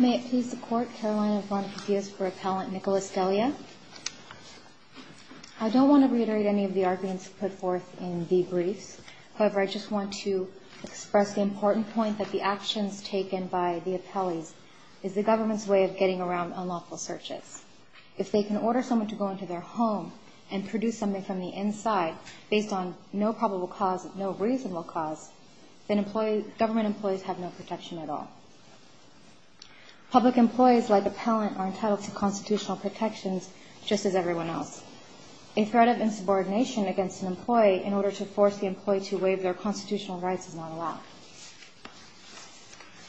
May it please the Court, Carolina Von Papias for Appellant Nicholas Delia. I don't want to reiterate any of the arguments put forth in the briefs. However, I just want to express the important point that the actions taken by the appellees is the government's way of getting around unlawful searches. If they can order someone to go into their home and produce something from the inside based on no probable cause, no reasonable cause, then government employees have no protection at all. Public employees like appellant are entitled to constitutional protections just as everyone else. A threat of insubordination against an employee in order to force the employee to waive their constitutional rights is not allowed.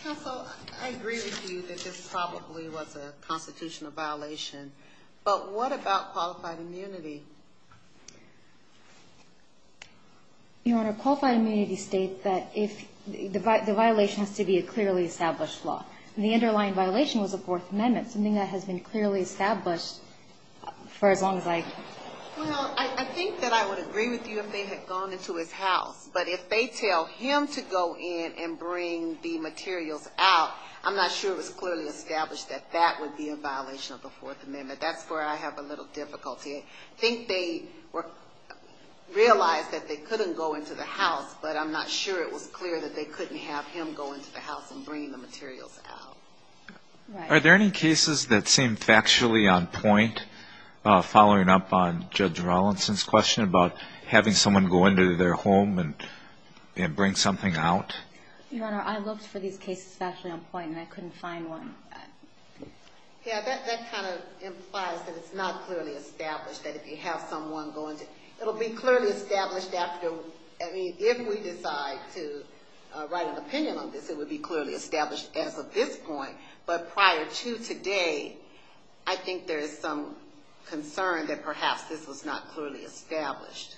Counsel, I agree with you that this probably was a constitutional violation, but what about qualified immunity? Your Honor, qualified immunity states that the violation has to be a clearly established law. The underlying violation was a Fourth Amendment, something that has been clearly established for as long as I can remember. Well, I think that I would agree with you if they had gone into his house, but if they tell him to go in and bring the materials out, I'm not sure it was clearly established that that would be a violation of the Fourth Amendment. That's where I have a little difficulty. I think they realized that they couldn't go into the house, but I'm not sure it was clear that they couldn't have him go into the house and bring the materials out. Are there any cases that seem factually on point, following up on Judge Rollinson's question about having someone go into their home and bring something out? Your Honor, I looked for these cases factually on point, and I couldn't find one. Yeah, that kind of implies that it's not clearly established that if you have someone go into... It'll be clearly established after... I mean, if we decide to write an opinion on this, it would be clearly established as of this point, but prior to today, I think there is some concern that perhaps this was not clearly established.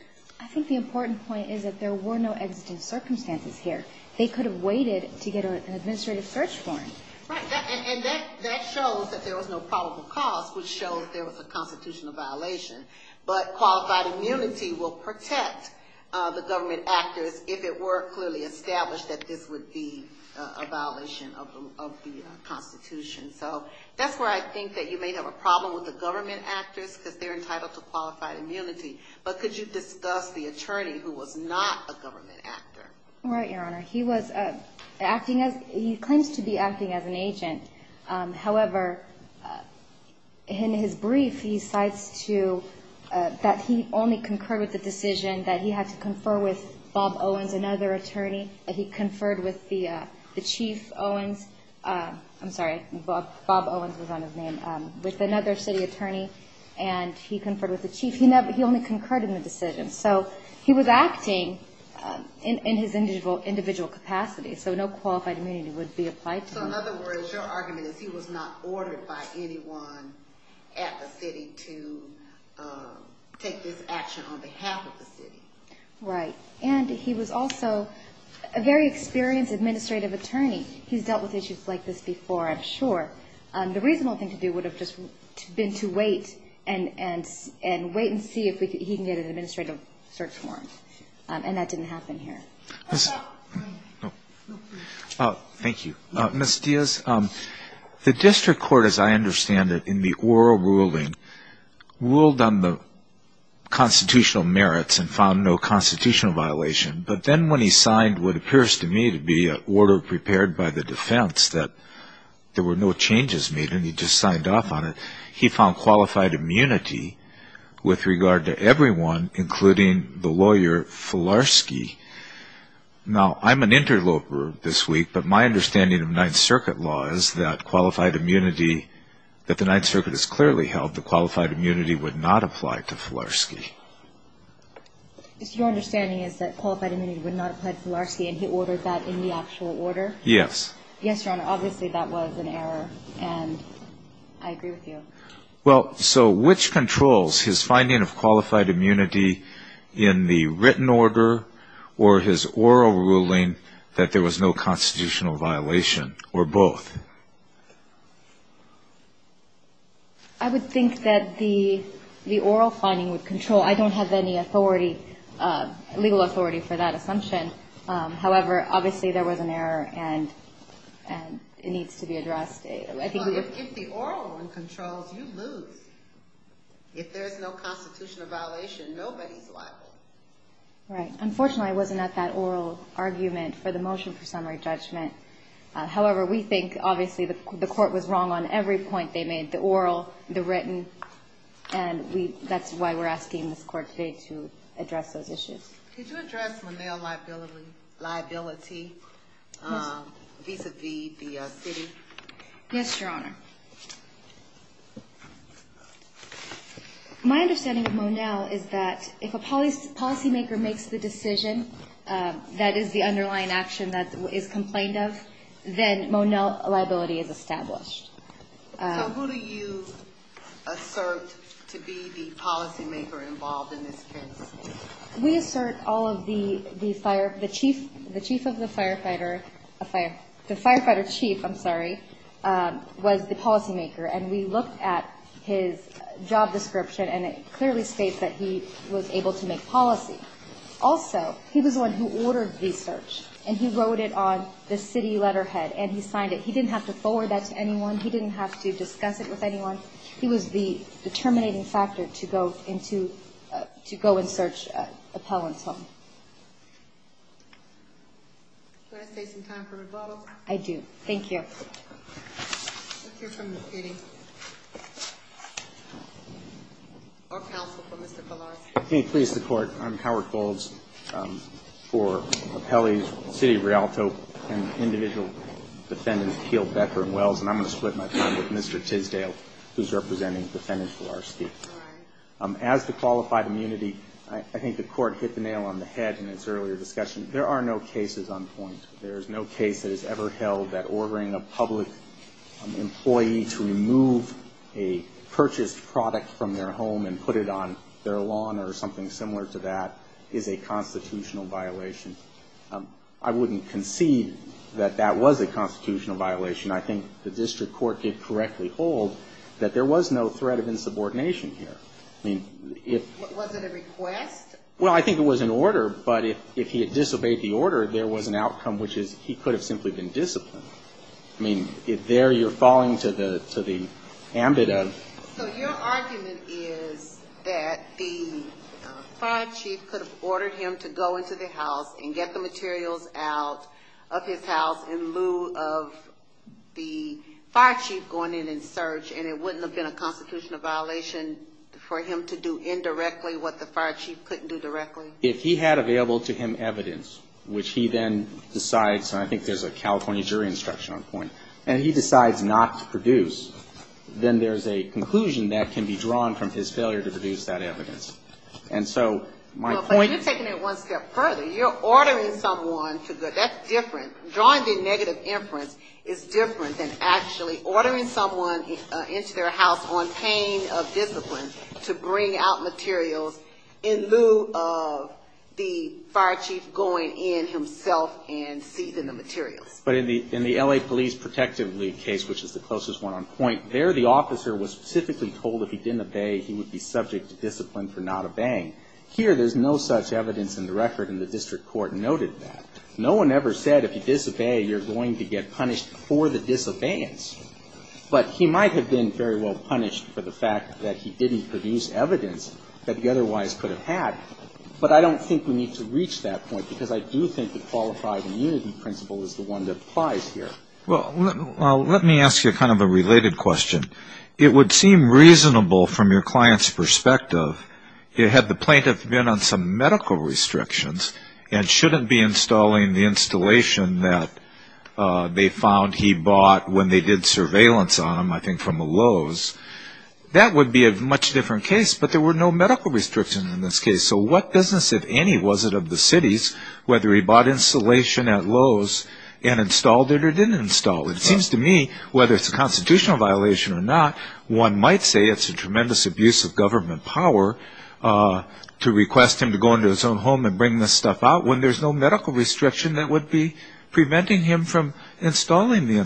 They could have waited to get an administrative search warrant. Right, and that shows that there was no probable cause, which shows there was a constitutional violation, but qualified immunity will protect the government actors if it were clearly established that this would be a violation of the Constitution. So that's where I think that you may have a problem with the government actors because they're entitled to qualified immunity, but could you discuss the attorney who was not a government actor? Right, Your Honor. He claims to be acting as an agent. However, in his brief, he cites that he only concurred with the decision that he had to confer with Bob Owens, another attorney. He conferred with the Chief Owens. I'm sorry, Bob Owens was on his name, with another city attorney, and he only concurred with the decision. So he was acting in his individual capacity, so no qualified immunity would be applied to him. So in other words, your argument is he was not ordered by anyone at the city to take this action on behalf of the city. Right, and he was also a very experienced administrative attorney. He's dealt with issues like this before, I'm sure. The reasonable thing to do would have been to wait and see if he could get an administrative search warrant, and that didn't happen here. Thank you. Ms. Diaz, the district court, as I understand it, in the oral ruling, ruled on the constitutional merits and found no constitutional violation, but then when he signed what appears to me to be an order prepared by the defense that there were no changes made, and he just signed off on it, he found qualified immunity with regard to everyone, including the lawyer Filarski. Now, I'm an interloper this week, but my understanding of Ninth Circuit law is that qualified immunity, that the Ninth Circuit has clearly held, that qualified immunity would not apply to Filarski. Your understanding is that qualified immunity would not apply to Filarski, and he ordered that in the actual order? Yes, Your Honor. Obviously, that was an error, and I agree with you. Well, so which controls? His finding of qualified immunity in the written order or his oral ruling that there was no constitutional violation, or both? I would think that the oral finding would control. I don't have any authority, legal authority for that assumption. However, obviously, there was an error, and it needs to be addressed. Well, if the oral one controls, you lose. If there's no constitutional violation, nobody's liable. Right. Unfortunately, I wasn't at that oral argument for the motion for summary judgment. However, we think, obviously, the court was wrong on every point they made, the oral, the written, and that's why we're asking this court today to address those issues. Could you address Monell liability vis-à-vis the city? Yes, Your Honor. My understanding of Monell is that if a policymaker makes the decision that is the underlying action that is complained of, then Monell liability is established. So who do you assert to be the policymaker involved in this case? We assert all of the fire, the chief, the chief of the firefighter, the firefighter chief, I'm sorry, was the policymaker. And we looked at his job description, and it clearly states that he was able to make policy. Also, he was the one who ordered the search, and he wrote it on the city letterhead, and he signed it. He didn't have to forward that to anyone. He didn't have to discuss it with anyone. He was the terminating factor to go into, to go and search Appellant's home. Can I take some time for rebuttal? I do. Thank you. I'm Howard Golds for Appellee's City of Rialto and individual defendant, Keil Becker and Wells, and I'm going to split my time with Mr. Tisdale. He's representing the defendant for our state. As to qualified immunity, I think the court hit the nail on the head in its earlier discussion. There are no cases on point. There is no case that has ever held that ordering a public employee to remove a purchased product from their home and put it on their lawn or something similar to that is a constitutional violation. I wouldn't concede that that was a constitutional violation. I think the district court did correctly hold that there was no threat of insubordination here. Was it a request? Well, I think it was an order, but if he had disobeyed the order, there was an outcome, which is he could have simply been disciplined. So your argument is that the fire chief could have ordered him to go into the house and get the materials out of his house in lieu of the fire chief going in and search, and it wouldn't have been a constitutional violation for him to do indirectly what the fire chief couldn't do directly? If he had available to him evidence, which he then decides, and I think there's a California jury instruction on point, and he decides not to produce, then there's a conclusion that can be drawn from his failure to produce that evidence. But you're taking it one step further. You're ordering someone to go. That's different. That negative inference is different than actually ordering someone into their house on pain of discipline to bring out materials in lieu of the fire chief going in himself and seizing the materials. But in the L.A. Police Protective League case, which is the closest one on point, there the officer was specifically told if he didn't obey, he would be subject to discipline for not obeying. Here, there's no such evidence in the record, and the district court noted that. So I don't think we're going to get punished for the disobedience, but he might have been very well punished for the fact that he didn't produce evidence that he otherwise could have had. But I don't think we need to reach that point, because I do think the qualified immunity principle is the one that applies here. Well, let me ask you kind of a related question. It would seem reasonable from your client's perspective, had the plaintiff been on some medical restrictions, and shouldn't be installing the installation that, they found he bought when they did surveillance on him, I think from Lowe's, that would be a much different case. But there were no medical restrictions in this case, so what business, if any, was it of the city's, whether he bought installation at Lowe's and installed it or didn't install it? It seems to me, whether it's a constitutional violation or not, one might say it's a tremendous abuse of government power to request him to go into his own home and bring this stuff out, when there's no medical restriction that would be preventing him from installing the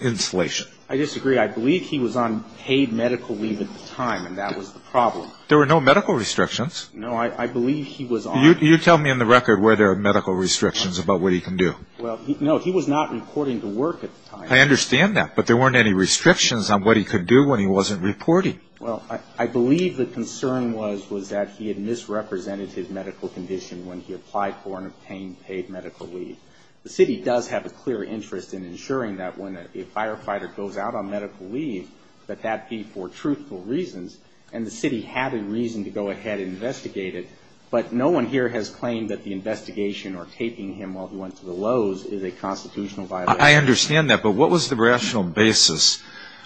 installation. I disagree. I believe he was on paid medical leave at the time, and that was the problem. There were no medical restrictions. No, I believe he was on... You tell me in the record where there are medical restrictions about what he can do. Well, no, he was not reporting to work at the time. I understand that, but there weren't any restrictions on what he could do when he wasn't reporting. Well, I believe the concern was that he had misrepresented his medical condition when he applied for and obtained paid medical leave. The city does have a clear interest in ensuring that when a firefighter goes out on medical leave, that that be for truthful reasons, and the city had a reason to go ahead and investigate it, but no one here has claimed that the investigation or taping him while he went to the Lowe's is a constitutional violation. I understand that, but what was the rational basis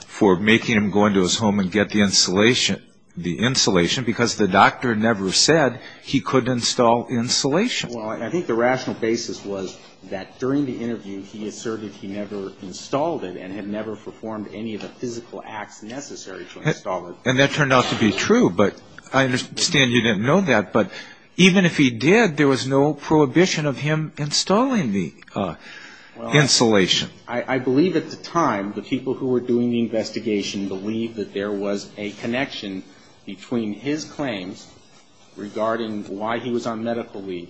for making him go into his home and get the installation? The installation, because the doctor never said he could install insulation. Well, I think the rational basis was that during the interview, he asserted he never installed it and had never performed any of the physical acts necessary to install it. And that turned out to be true, but I understand you didn't know that, but even if he did, there was no prohibition of him installing the insulation. I believe at the time, the people who were doing the investigation believed that there was a connection between his claims regarding why he was on medical leave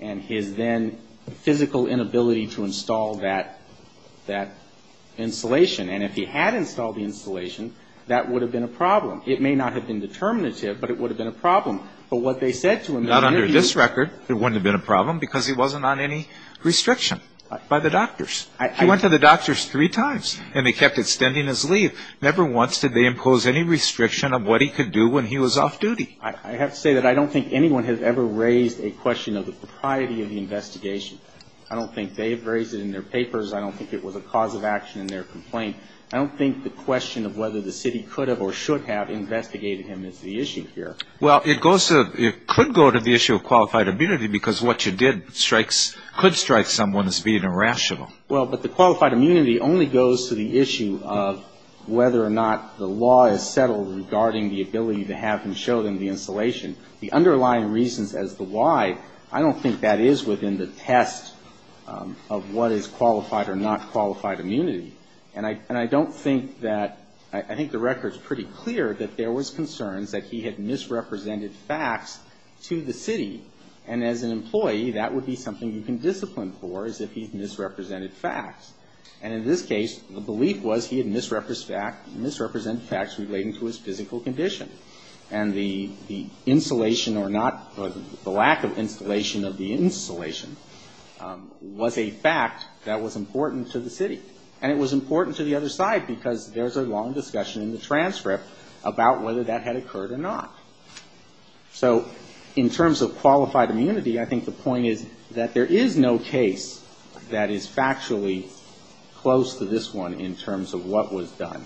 and his then physical inability to install that insulation. And if he had installed the insulation, that would have been a problem. It may not have been determinative, but it would have been a problem. But what they said to him in the interview was that he was on medical leave. Not under this record, it wouldn't have been a problem because he wasn't on any restriction by the doctors. He went to the doctors three times, and they kept extending his leave. Never once did they impose any restriction of what he could do when he was off-duty. I have to say that I don't think anyone has ever raised a question of the propriety of the investigation. I don't think they have raised it in their papers. I don't think it was a cause of action in their complaint. I don't think the question of whether the city could have or should have investigated him is the issue here. Well, it could go to the issue of qualified immunity because what you did could strike someone as being irrational. Well, but the qualified immunity only goes to the issue of whether or not the law is settled regarding the ability to have him show them the insulation. The underlying reasons as to why, I don't think that is within the test of what is qualified or not qualified immunity. And I don't think that, I think the record is pretty clear that there was concerns that he had misrepresented facts to the city. And as an employee, that would be something you can discipline for is if he's misrepresented facts. And in this case, the belief was he had misrepresented facts relating to his physical condition. And the insulation or not, the lack of insulation of the insulation was a fact that was important to the city. And it was important to the other side because there's a long discussion in the transcript about whether that had occurred or not. So in terms of qualified immunity, I think the point is that there is no case that is factually close to this one in terms of what was done.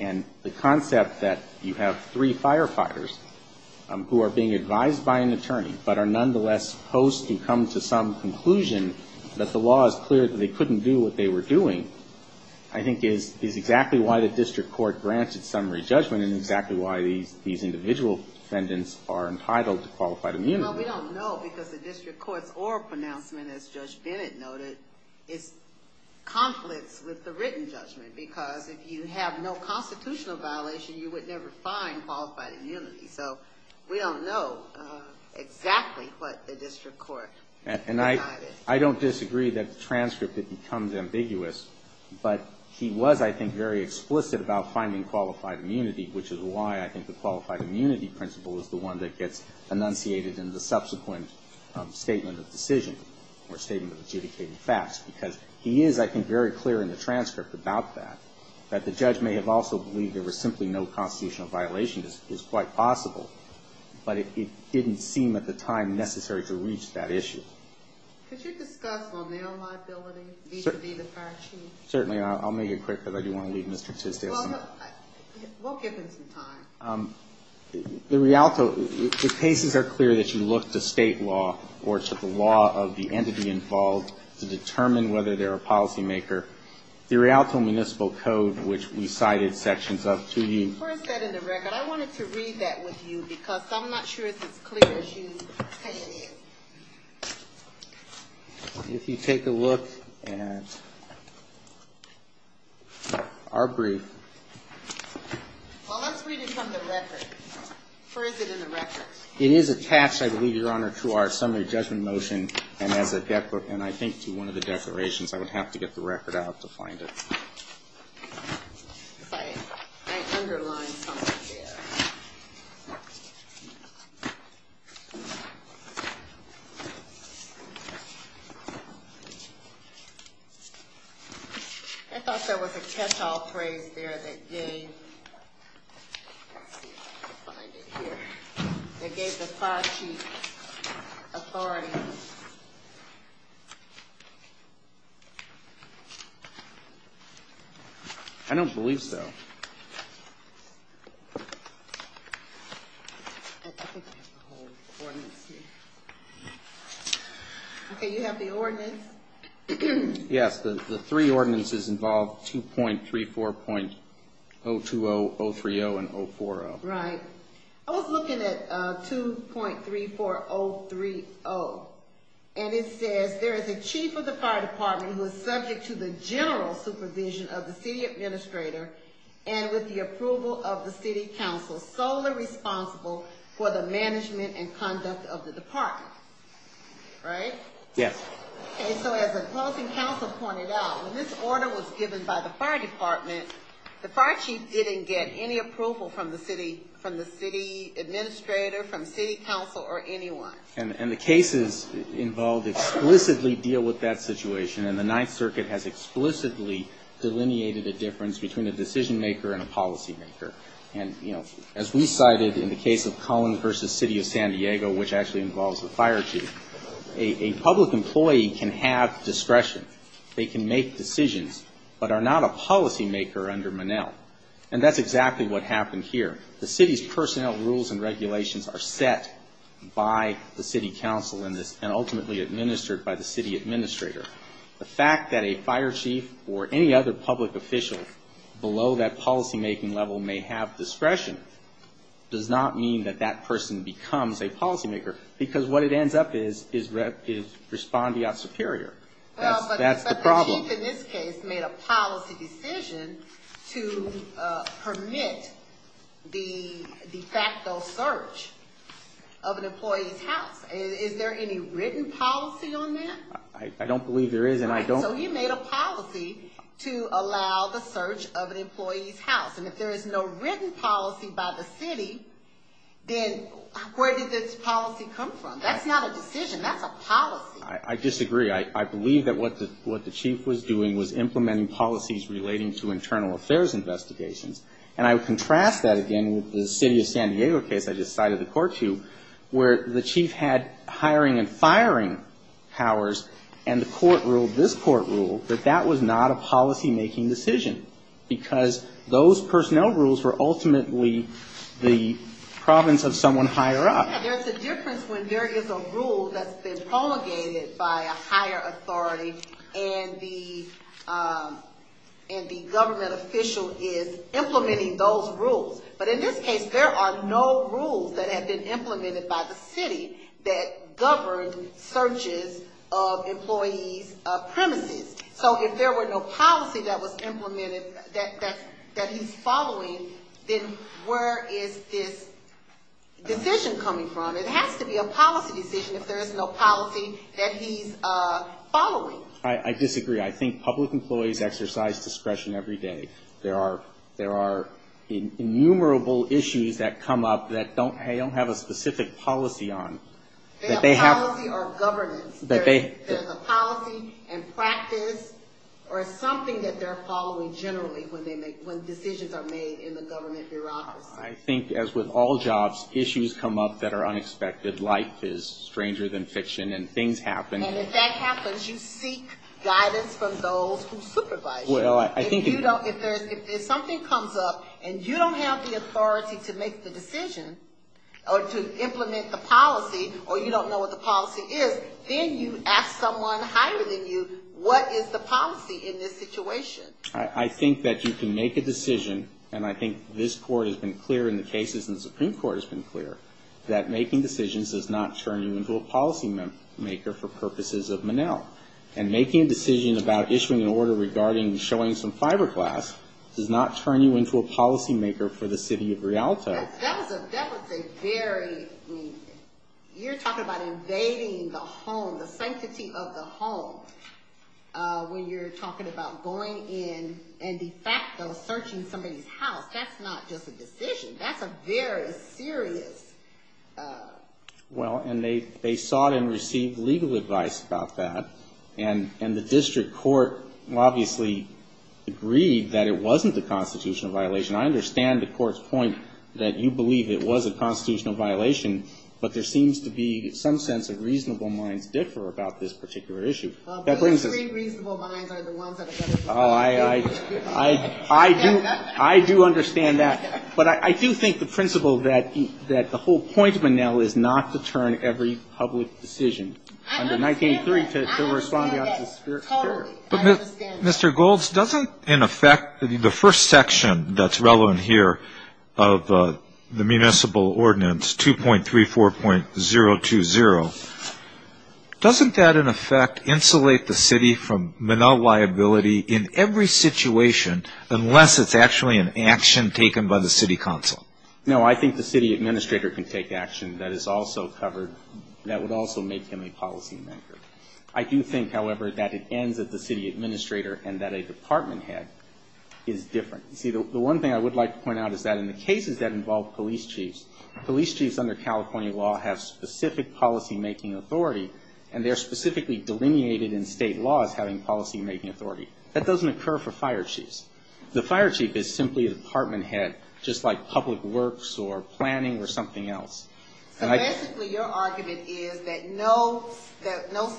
And the concept that you have three firefighters who are being advised by an attorney but are nonetheless supposed to come to some conclusion about what they're doing, I think is exactly why the district court granted summary judgment and exactly why these individual defendants are entitled to qualified immunity. Well, we don't know because the district court's oral pronouncement, as Judge Bennett noted, is conflicts with the written judgment. Because if you have no constitutional violation, you would never find qualified immunity. So we don't know exactly what the district court decided. And I don't disagree that the transcript becomes ambiguous, but he was, I think, very explicit about finding qualified immunity, which is why I think the qualified immunity principle is the one that gets enunciated in the subsequent statement of decision or statement of adjudicated facts. Because he is, I think, very clear in the transcript about that, that the judge may have also believed there was simply no constitutional violation is quite possible, but it didn't seem at the time necessary to reach that issue. Could you discuss liability? Certainly. I'll make it quick because I do want to leave Mr. Tisdale some time. The Rialto, the cases are clear that you look to state law or to the law of the entity involved to determine whether they're a policymaker. The Rialto Municipal Code, which we cited sections up to you. Where is that in the record? I wanted to read that with you because I'm not sure it's as clear as you type it in. If you take a look at our brief. Well, let's read it from the record. Where is it in the record? It is attached, I believe, Your Honor, to our summary judgment motion and I think to one of the declarations. I would have to get the record out to find it. I underlined something there. I thought there was a catch-all phrase there that gave authority. I don't believe so. Okay. You have the ordinance? Yes. The three ordinances involve 2.34.020, 030, and 040. Right. I was looking at 2.34030 and it says there is a chief of the fire department who is subject to the general supervision of the city administrator and with the approval of a city council solely responsible for the management and conduct of the department. Right? Yes. Okay. So as a closing council pointed out, when this order was given by the fire department, the fire chief didn't get any approval from the city administrator, from city council, or anyone. And the cases involved explicitly deal with that situation and the Ninth Circuit has explicitly delineated a difference between a decision maker and a policy maker. And, you know, as we cited in the case of Cullen v. City of San Diego, which actually involves the fire chief, a public employee can have discretion. They can make decisions, but are not a policy maker under Monell. And that's exactly what happened here. The city's personnel rules and regulations are set by the city council and ultimately administered by the city administrator. The fact that a fire chief or any other public official below that policy-making level may not be able to make a decision on a policy maker, or may have discretion, does not mean that that person becomes a policy maker. Because what it ends up is, is respondeat superior. That's the problem. But the chief in this case made a policy decision to permit the de facto search of an employee's house. Is there any written policy on that? I don't believe there is, and I don't... So you made a policy to allow the search of an employee's house. And if there is no written policy by the city, then where did this policy come from? That's not a decision. That's a policy. I disagree. I believe that what the chief was doing was implementing policies relating to internal affairs investigations. And I would contrast that again with the City of San Diego case I just cited the court to, where the chief had hiring and firing powers, and the court ruled, this court ruled, that the fire chief had discretion. And the court ruled that that was not a policy-making decision. Because those personnel rules were ultimately the province of someone higher up. There's a difference when there is a rule that's been promulgated by a higher authority, and the government official is implementing those rules. But in this case, there are no rules that have been implemented by the city that governed searches of employees' premises. So if there were no policy that was implemented that he's following, then where is this decision coming from? It has to be a policy decision if there is no policy that he's following. I disagree. I think public employees exercise discretion every day. There are innumerable issues that come up that they don't have a specific policy on. They have policy or governance. There's a policy and practice or something that they're following generally when decisions are made in the government bureaucracy. I think as with all jobs, issues come up that are unexpected. Life is stranger than fiction, and things happen. And if that happens, you seek guidance from those who supervise you. If something comes up and you don't have the authority to make the decision, or to implement the policy, then you don't have the authority to make the decision. Or you don't know what the policy is. Then you ask someone higher than you, what is the policy in this situation? I think that you can make a decision, and I think this Court has been clear in the cases and the Supreme Court has been clear, that making decisions does not turn you into a policymaker for purposes of Monell. And making a decision about issuing an order regarding showing some fiberglass does not turn you into a policymaker for the city of Rialto. That was a very, you're talking about invading the home, the sanctity of the home, when you're talking about going in and de facto searching somebody's house. That's not just a decision. That's a very serious... Well, and they sought and received legal advice about that, and the district court obviously agreed that it wasn't a constitutional violation. I understand the Court's point that you believe it was a constitutional violation, but there seems to be some sense of reasonable minds differ about this particular issue. The three reasonable minds are the ones that are going to... I do understand that. But I do think the principle that the whole point of Monell is not to turn every public decision under 1983 to respond to the spirit of the jury. But, Mr. Golds, doesn't, in effect, the first section that's relevant here of the municipal ordinance, 2.34.020, doesn't that, in effect, insulate the city from Monell liability in every situation unless it's actually an action taken by the city council? No, I think the city administrator can take action that is also covered, that would also make him a policymaker. I do think, however, that it ends at the city administrator and that a department head is different. You see, the one thing I would like to point out is that in the cases that involve police chiefs, police chiefs under California law have specific policymaking authority, and they're specifically delineated in state law as having policymaking authority. That doesn't occur for fire chiefs. The fire chief is simply a department head, just like public works or planning or something else. So, basically, your argument is that no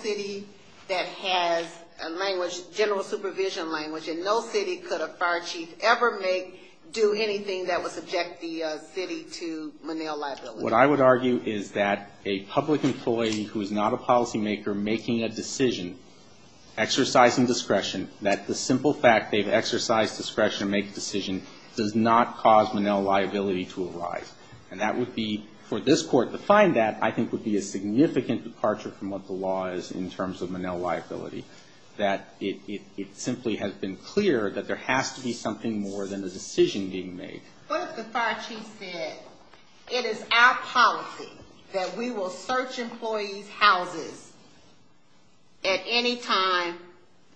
city that has a language, general supervision language, and no city could a fire chief ever make, do anything that would subject the city to Monell liability? What I would argue is that a public employee who is not a policymaker making a decision, exercising discretion, that the simple fact they've exercised discretion to make a decision does not cause Monell liability to arise. And that would be, for this court to find that, I think would be a significant departure from what the law is in terms of Monell liability, that it simply has been clear that there has to be something more than a decision being made. But if the fire chief said, it is our policy that we will search employees' houses at any time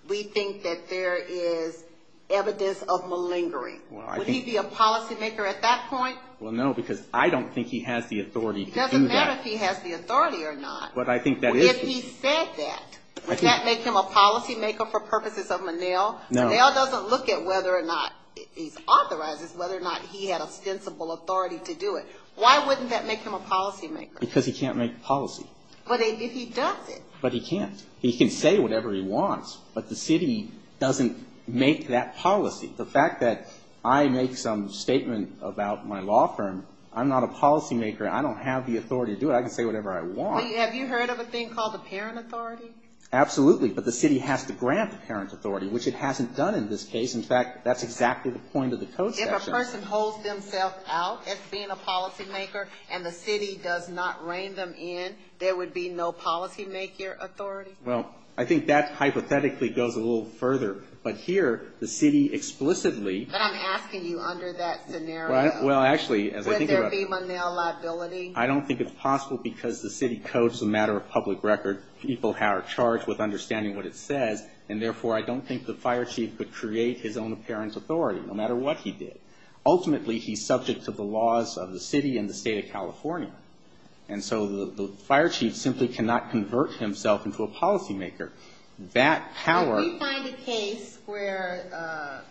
we think that there is evidence of malingering, would he be a policymaker at that point? Well, no, because I don't think he has the authority to do that. It doesn't matter if he has the authority or not. If he said that, would that make him a policymaker for purposes of Monell? Monell doesn't look at whether or not he authorizes, whether or not he had ostensible authority to do it. Why wouldn't that make him a policymaker? Because he can't make policy. But if he does it. But he can't. He can say whatever he wants, but the city doesn't make that policy. The fact that I make some statement about my law firm, I'm not a policymaker. I don't have the authority to do it. I can say whatever I want. Have you heard of a thing called the parent authority? Absolutely, but the city has to grant the parent authority, which it hasn't done in this case. In fact, that's exactly the point of the code section. If a person holds themselves out as being a policymaker and the city does not rein them in, there would be no policymaker authority? Well, I think that hypothetically goes a little further. But here, the city explicitly. But I'm asking you under that scenario, would there be Monell liability? I don't think it's possible because the city codes the matter of public record. People are charged with understanding what it says. And therefore, I don't think the fire chief could create his own apparent authority, no matter what he did. Ultimately, he's subject to the laws of the city and the state of California. And so the fire chief simply cannot convert himself into a policymaker. If we find a case where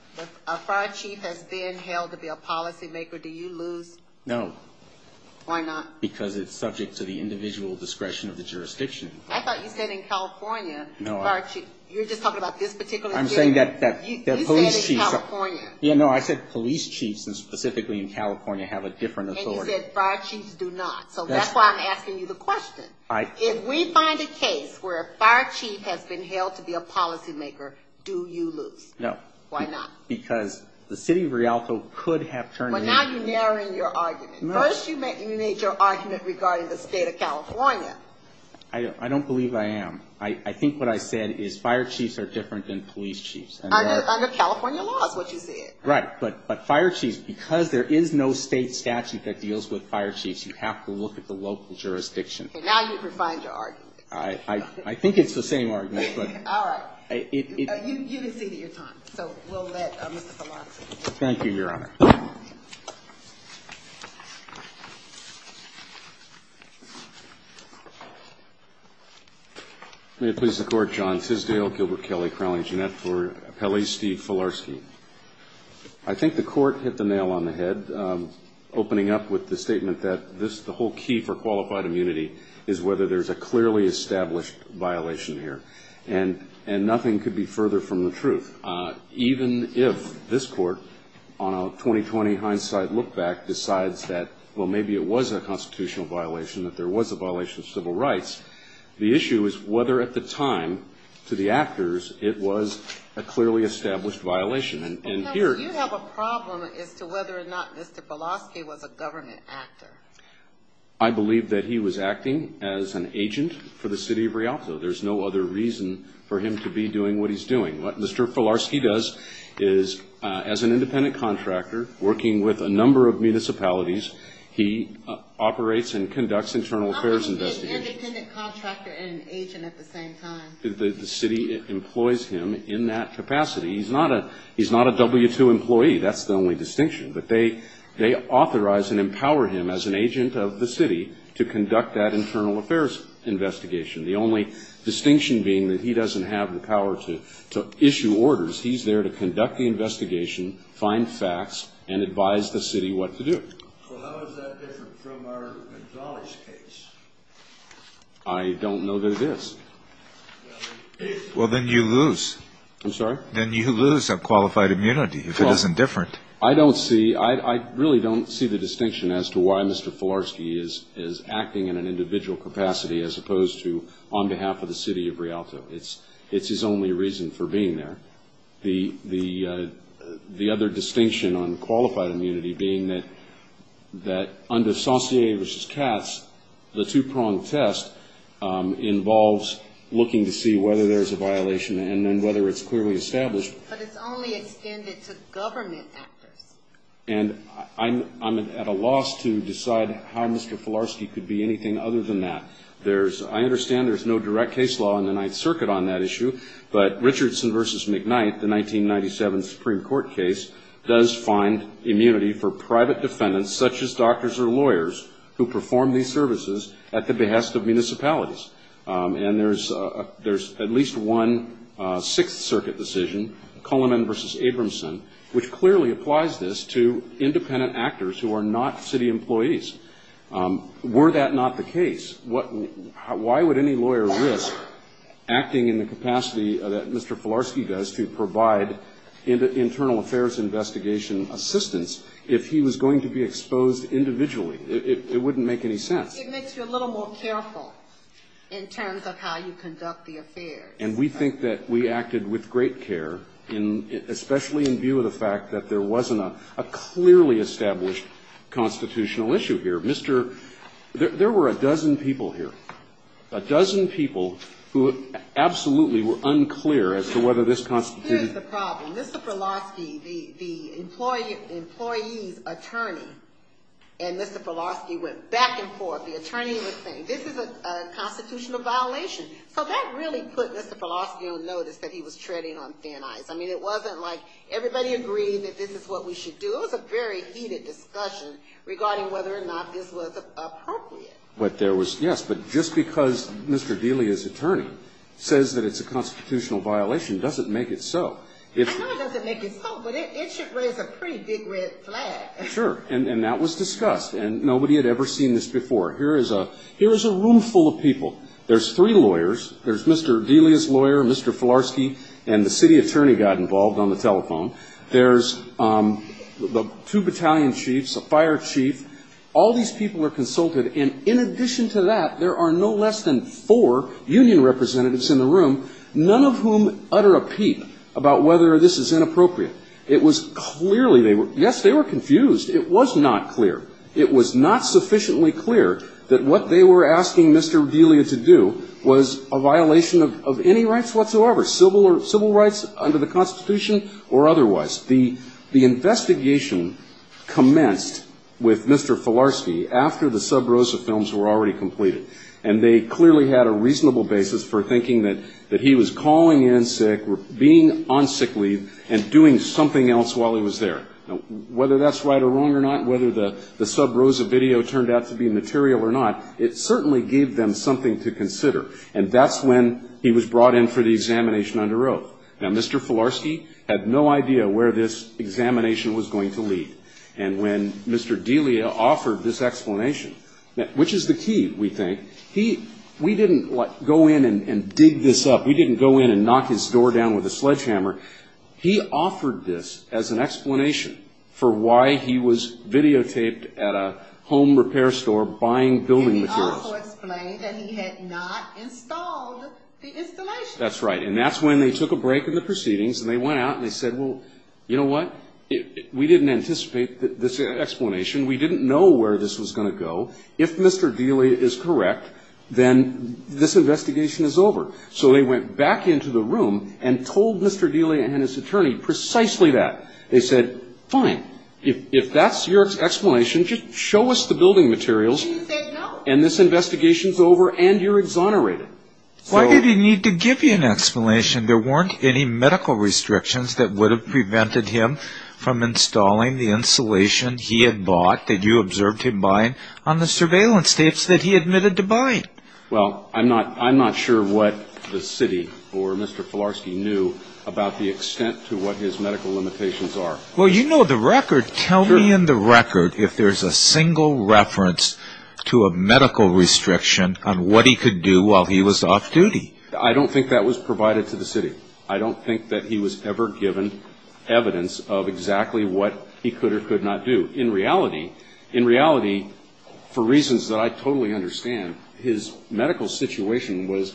a fire chief has been held to be a policymaker, do you lose? No. Why not? Because it's subject to the individual discretion of the jurisdiction. I thought you said in California, fire chief. You're just talking about this particular scenario? I'm saying that police chiefs specifically in California have a different authority. And you said fire chiefs do not. So that's why I'm asking you the question. If we find a case where a fire chief has been held to be a policymaker, do you lose? No. Why not? Because the city of Rialto could have turned... But now you're narrowing your argument. First you made your argument regarding the state of California. I don't believe I am. I think what I said is fire chiefs are different than police chiefs. Under California law is what you said. Right. But fire chiefs, because there is no state statute that deals with fire chiefs, you have to look at the local jurisdiction. Now you've refined your argument. I think it's the same argument. All right. You can cede your time. Thank you, Your Honor. May it please the Court, John Sisdale, Gilbert Kelly, Crowley Jeanette, for appellee Steve Filarski. I think the Court hit the nail on the head, opening up with the statement that the whole key for qualified immunity is whether there is a clearly established violation here. And nothing could be further from the truth. Even if this Court, on a 20-20 hindsight look-back, decides that, well, maybe it was a constitutional violation, that there was a violation of civil rights, the issue is whether at the time, to the actors, it was a clearly established violation. You have a problem as to whether or not Mr. Filarski was a government actor. I believe that he was acting as an agent for the City of Rialto. There's no other reason for him to be doing what he's doing. What Mr. Filarski does is, as an independent contractor, working with a number of municipalities, he operates and conducts internal affairs investigations. How can he be an independent contractor and an agent at the same time? The City employs him in that capacity. He's not a W-2 employee. That's the only distinction. But they authorize and empower him as an agent of the City to conduct that internal affairs investigation. The only distinction being that he doesn't have the power to issue orders. He's there to conduct the investigation, find facts, and advise the City what to do. Well, how is that different from our Gonzalez case? I don't know that it is. Well, then you lose. I'm sorry? Then you lose a qualified immunity, if it isn't different. I don't see, I really don't see the distinction as to why Mr. Filarski is acting in an individual capacity as opposed to on behalf of the City of Rialto. It's his only reason for being there. The other distinction on qualified immunity being that under Saucier v. Katz, the two-pronged test involves looking to see whether there's a violation and then whether it's clearly established. But it's only extended to government actors. And I'm at a loss to decide how Mr. Filarski could be anything other than that. I understand there's no direct case law in the Ninth Circuit on that issue, but Richardson v. McKnight, the 1997 Supreme Court case, does find immunity for private defendants such as doctors or lawyers who perform these services at the behest of municipalities. And there's at least one Sixth Circuit decision, Cullinan v. Abramson, which clearly applies this to independent actors who are not City employees. Were that not the case, why would any lawyer risk acting in the capacity that Mr. Filarski does to provide internal affairs investigation assistance if he was going to be exposed individually? It wouldn't make any sense. It makes you a little more careful in terms of how you conduct the affairs. And we think that we acted with great care, especially in view of the fact that there wasn't a clearly established constitutional issue here. Mr. – there were a dozen people here. A dozen people who absolutely were unclear as to whether this constituted Here's the problem. Mr. Filarski, the employee's attorney and Mr. Filarski went back and forth. The attorney was saying, this is a constitutional violation. So that really put Mr. Filarski on notice that he was treading on thin ice. I mean, it wasn't like everybody agreed that this is what we should do. It was a very heated discussion regarding whether or not this was appropriate. But there was – yes, but just because Mr. Delia's attorney says that it's a constitutional violation doesn't make it so. I know it doesn't make it so, but it should raise a pretty big red flag. Sure. And that was discussed. And nobody had ever seen this before. Here is a room full of people. There's three lawyers. There's Mr. Delia's lawyer, Mr. Filarski, and the city attorney got involved on the telephone. There's two battalion chiefs, a fire chief. All these people are consulted. And in addition to that, there are no less than four union representatives in the room, none of whom utter a peep about whether this is inappropriate. It was clearly – yes, they were confused. It was not clear. It was not sufficiently clear that what they were asking Mr. Delia to do was a violation of any rights whatsoever, civil rights under the Constitution or otherwise. The investigation commenced with Mr. Filarski after the Sub Rosa films were already completed. And they clearly had a reasonable basis for thinking that he was calling in sick, being on sick leave, and doing something else while he was there. Now, whether that's right or wrong or not, whether the Sub Rosa video turned out to be material or not, it certainly gave them something to consider. And that's when he was brought in for the examination under oath. Now, Mr. Filarski had no idea where this examination was going to lead. And when Mr. Delia offered this explanation – which is the key, we think. He – we didn't go in and dig this up. We didn't go in and knock his door down with a sledgehammer. He offered this as an explanation for why he was videotaped at a home repair store buying building materials. And he also explained that he had not installed the installation. That's right. And that's when they took a break in the proceedings and they went out and they said, well, you know what? We didn't anticipate this explanation. We didn't know where this was going to go. If Mr. Delia is correct, then this investigation is over. So they went back into the room and told Mr. Delia and his attorney precisely that. They said, fine. If that's your explanation, just show us the building materials. And you said no. And this investigation's over and you're exonerated. Why did he need to give you an explanation? There weren't any medical restrictions that would have prevented him from installing the installation he had bought that you observed him buying on the surveillance tapes that he admitted to buying. Well, I'm not sure what the city or Mr. Filarski knew about the extent to what his medical limitations are. Well, you know the record. Tell me in the record if there's a single reference to a medical restriction on what he could do while he was off duty. I don't think that was provided to the city. I don't think that he was ever given evidence of exactly what he could or could not do. In reality, in reality, for reasons that I totally understand, his medical situation was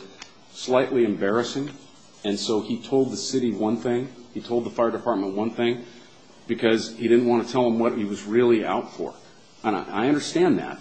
slightly embarrassing. And so he told the city one thing. He told the fire department one thing because he didn't want to tell them what he was really out for. And I understand that.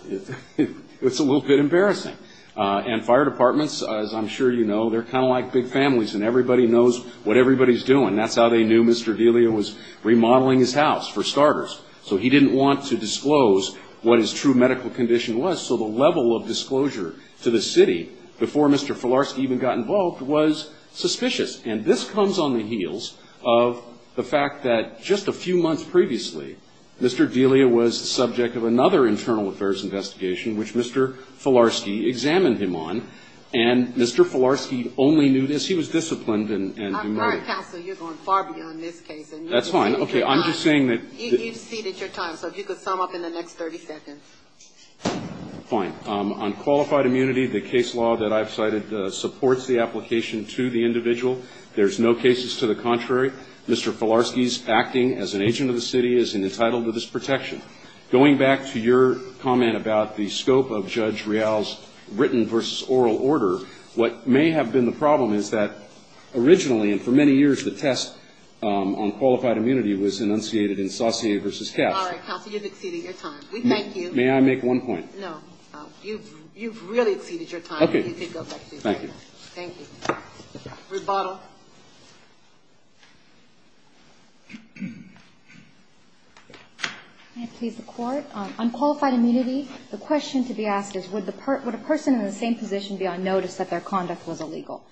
It's a little bit embarrassing. And fire departments, as I'm sure you know, they're kind of like big families and everybody knows what everybody's doing. That's how they knew Mr. Delia was remodeling his house, for starters. So he didn't want to disclose what his true medical condition was. So the level of disclosure to the city before Mr. Filarski even got involved was suspicious. And this comes on the heels of the fact that just a few months previously, Mr. Delia was the subject of another internal affairs investigation, which Mr. Filarski examined him on. And Mr. Filarski only knew this. He was disciplined and demoted. All right, counsel, you're going far beyond this case. That's fine. Okay, I'm just saying that... You've ceded your time, so if you could sum up in the next 30 seconds. Fine. On qualified immunity, the case law that I've cited supports the application to the individual. There's no cases to the contrary. Mr. Filarski's acting as an agent of the city is entitled to this protection. Going back to your comment about the scope of Judge Real's written versus oral order, what may have been the problem is that originally, and for many years, the test on qualified immunity was enunciated in Saussure versus Katz. All right, counsel, you've exceeded your time. We thank you. May I make one point? No. You've really exceeded your time. Okay. Thank you. Thank you. Rebuttal. May it please the Court? On qualified immunity, the question to be asked is, would a person in the same position be on notice that their conduct was illegal?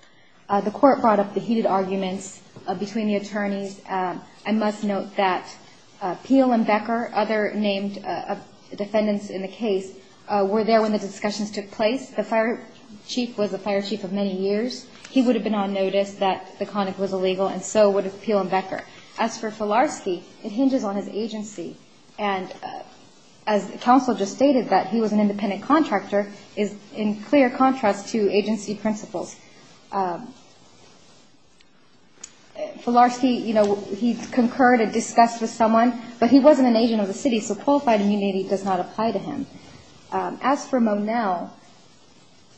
The Court brought up the heated arguments between the attorneys. I must note that Peel and Becker, other named defendants in the case, were there when the discussions took place. The fire chief was the fire chief of many years. He would have been on notice that the conduct was illegal, and so would have Peel and Becker. As for Filarski, it hinges on his agency. And as counsel just stated, that he was an independent contractor is in clear contrast to agency principles. Filarski, you know, he concurred and discussed with someone, but he wasn't an agent of the city, so qualified immunity does not apply to him. As for Monell,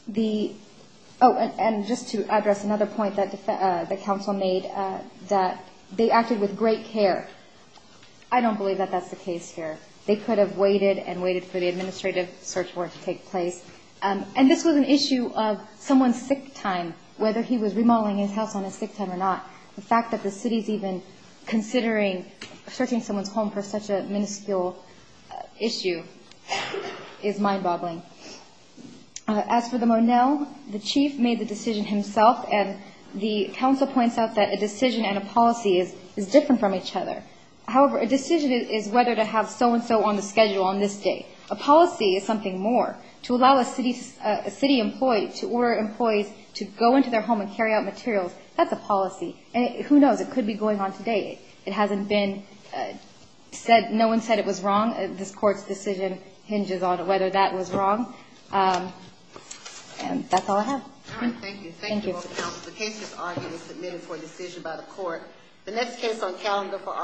the – oh, and just to address another point that counsel made, that they acted with great care. I don't believe that that's the case here. They could have waited and waited for the administrative search war to take place. And this was an issue of someone's sick time, whether he was remodeling his house on his sick time or not. The fact that the city is even considering searching someone's home for such a minuscule issue is mind-boggling. As for the Monell, the chief made the decision himself, and the counsel points out that a decision and a policy is different from each other. However, a decision is whether to have so-and-so on the schedule on this day. A policy is something more. To allow a city employee – to order employees to go into their home and carry out materials, that's a policy. And who knows, it could be going on today. It hasn't been said – no one said it was wrong. This Court's decision hinges on whether that was wrong. And that's all I have. All right, thank you. Thank you, counsel. The case has already been submitted for a decision by the Court. The next case on calendar for argument is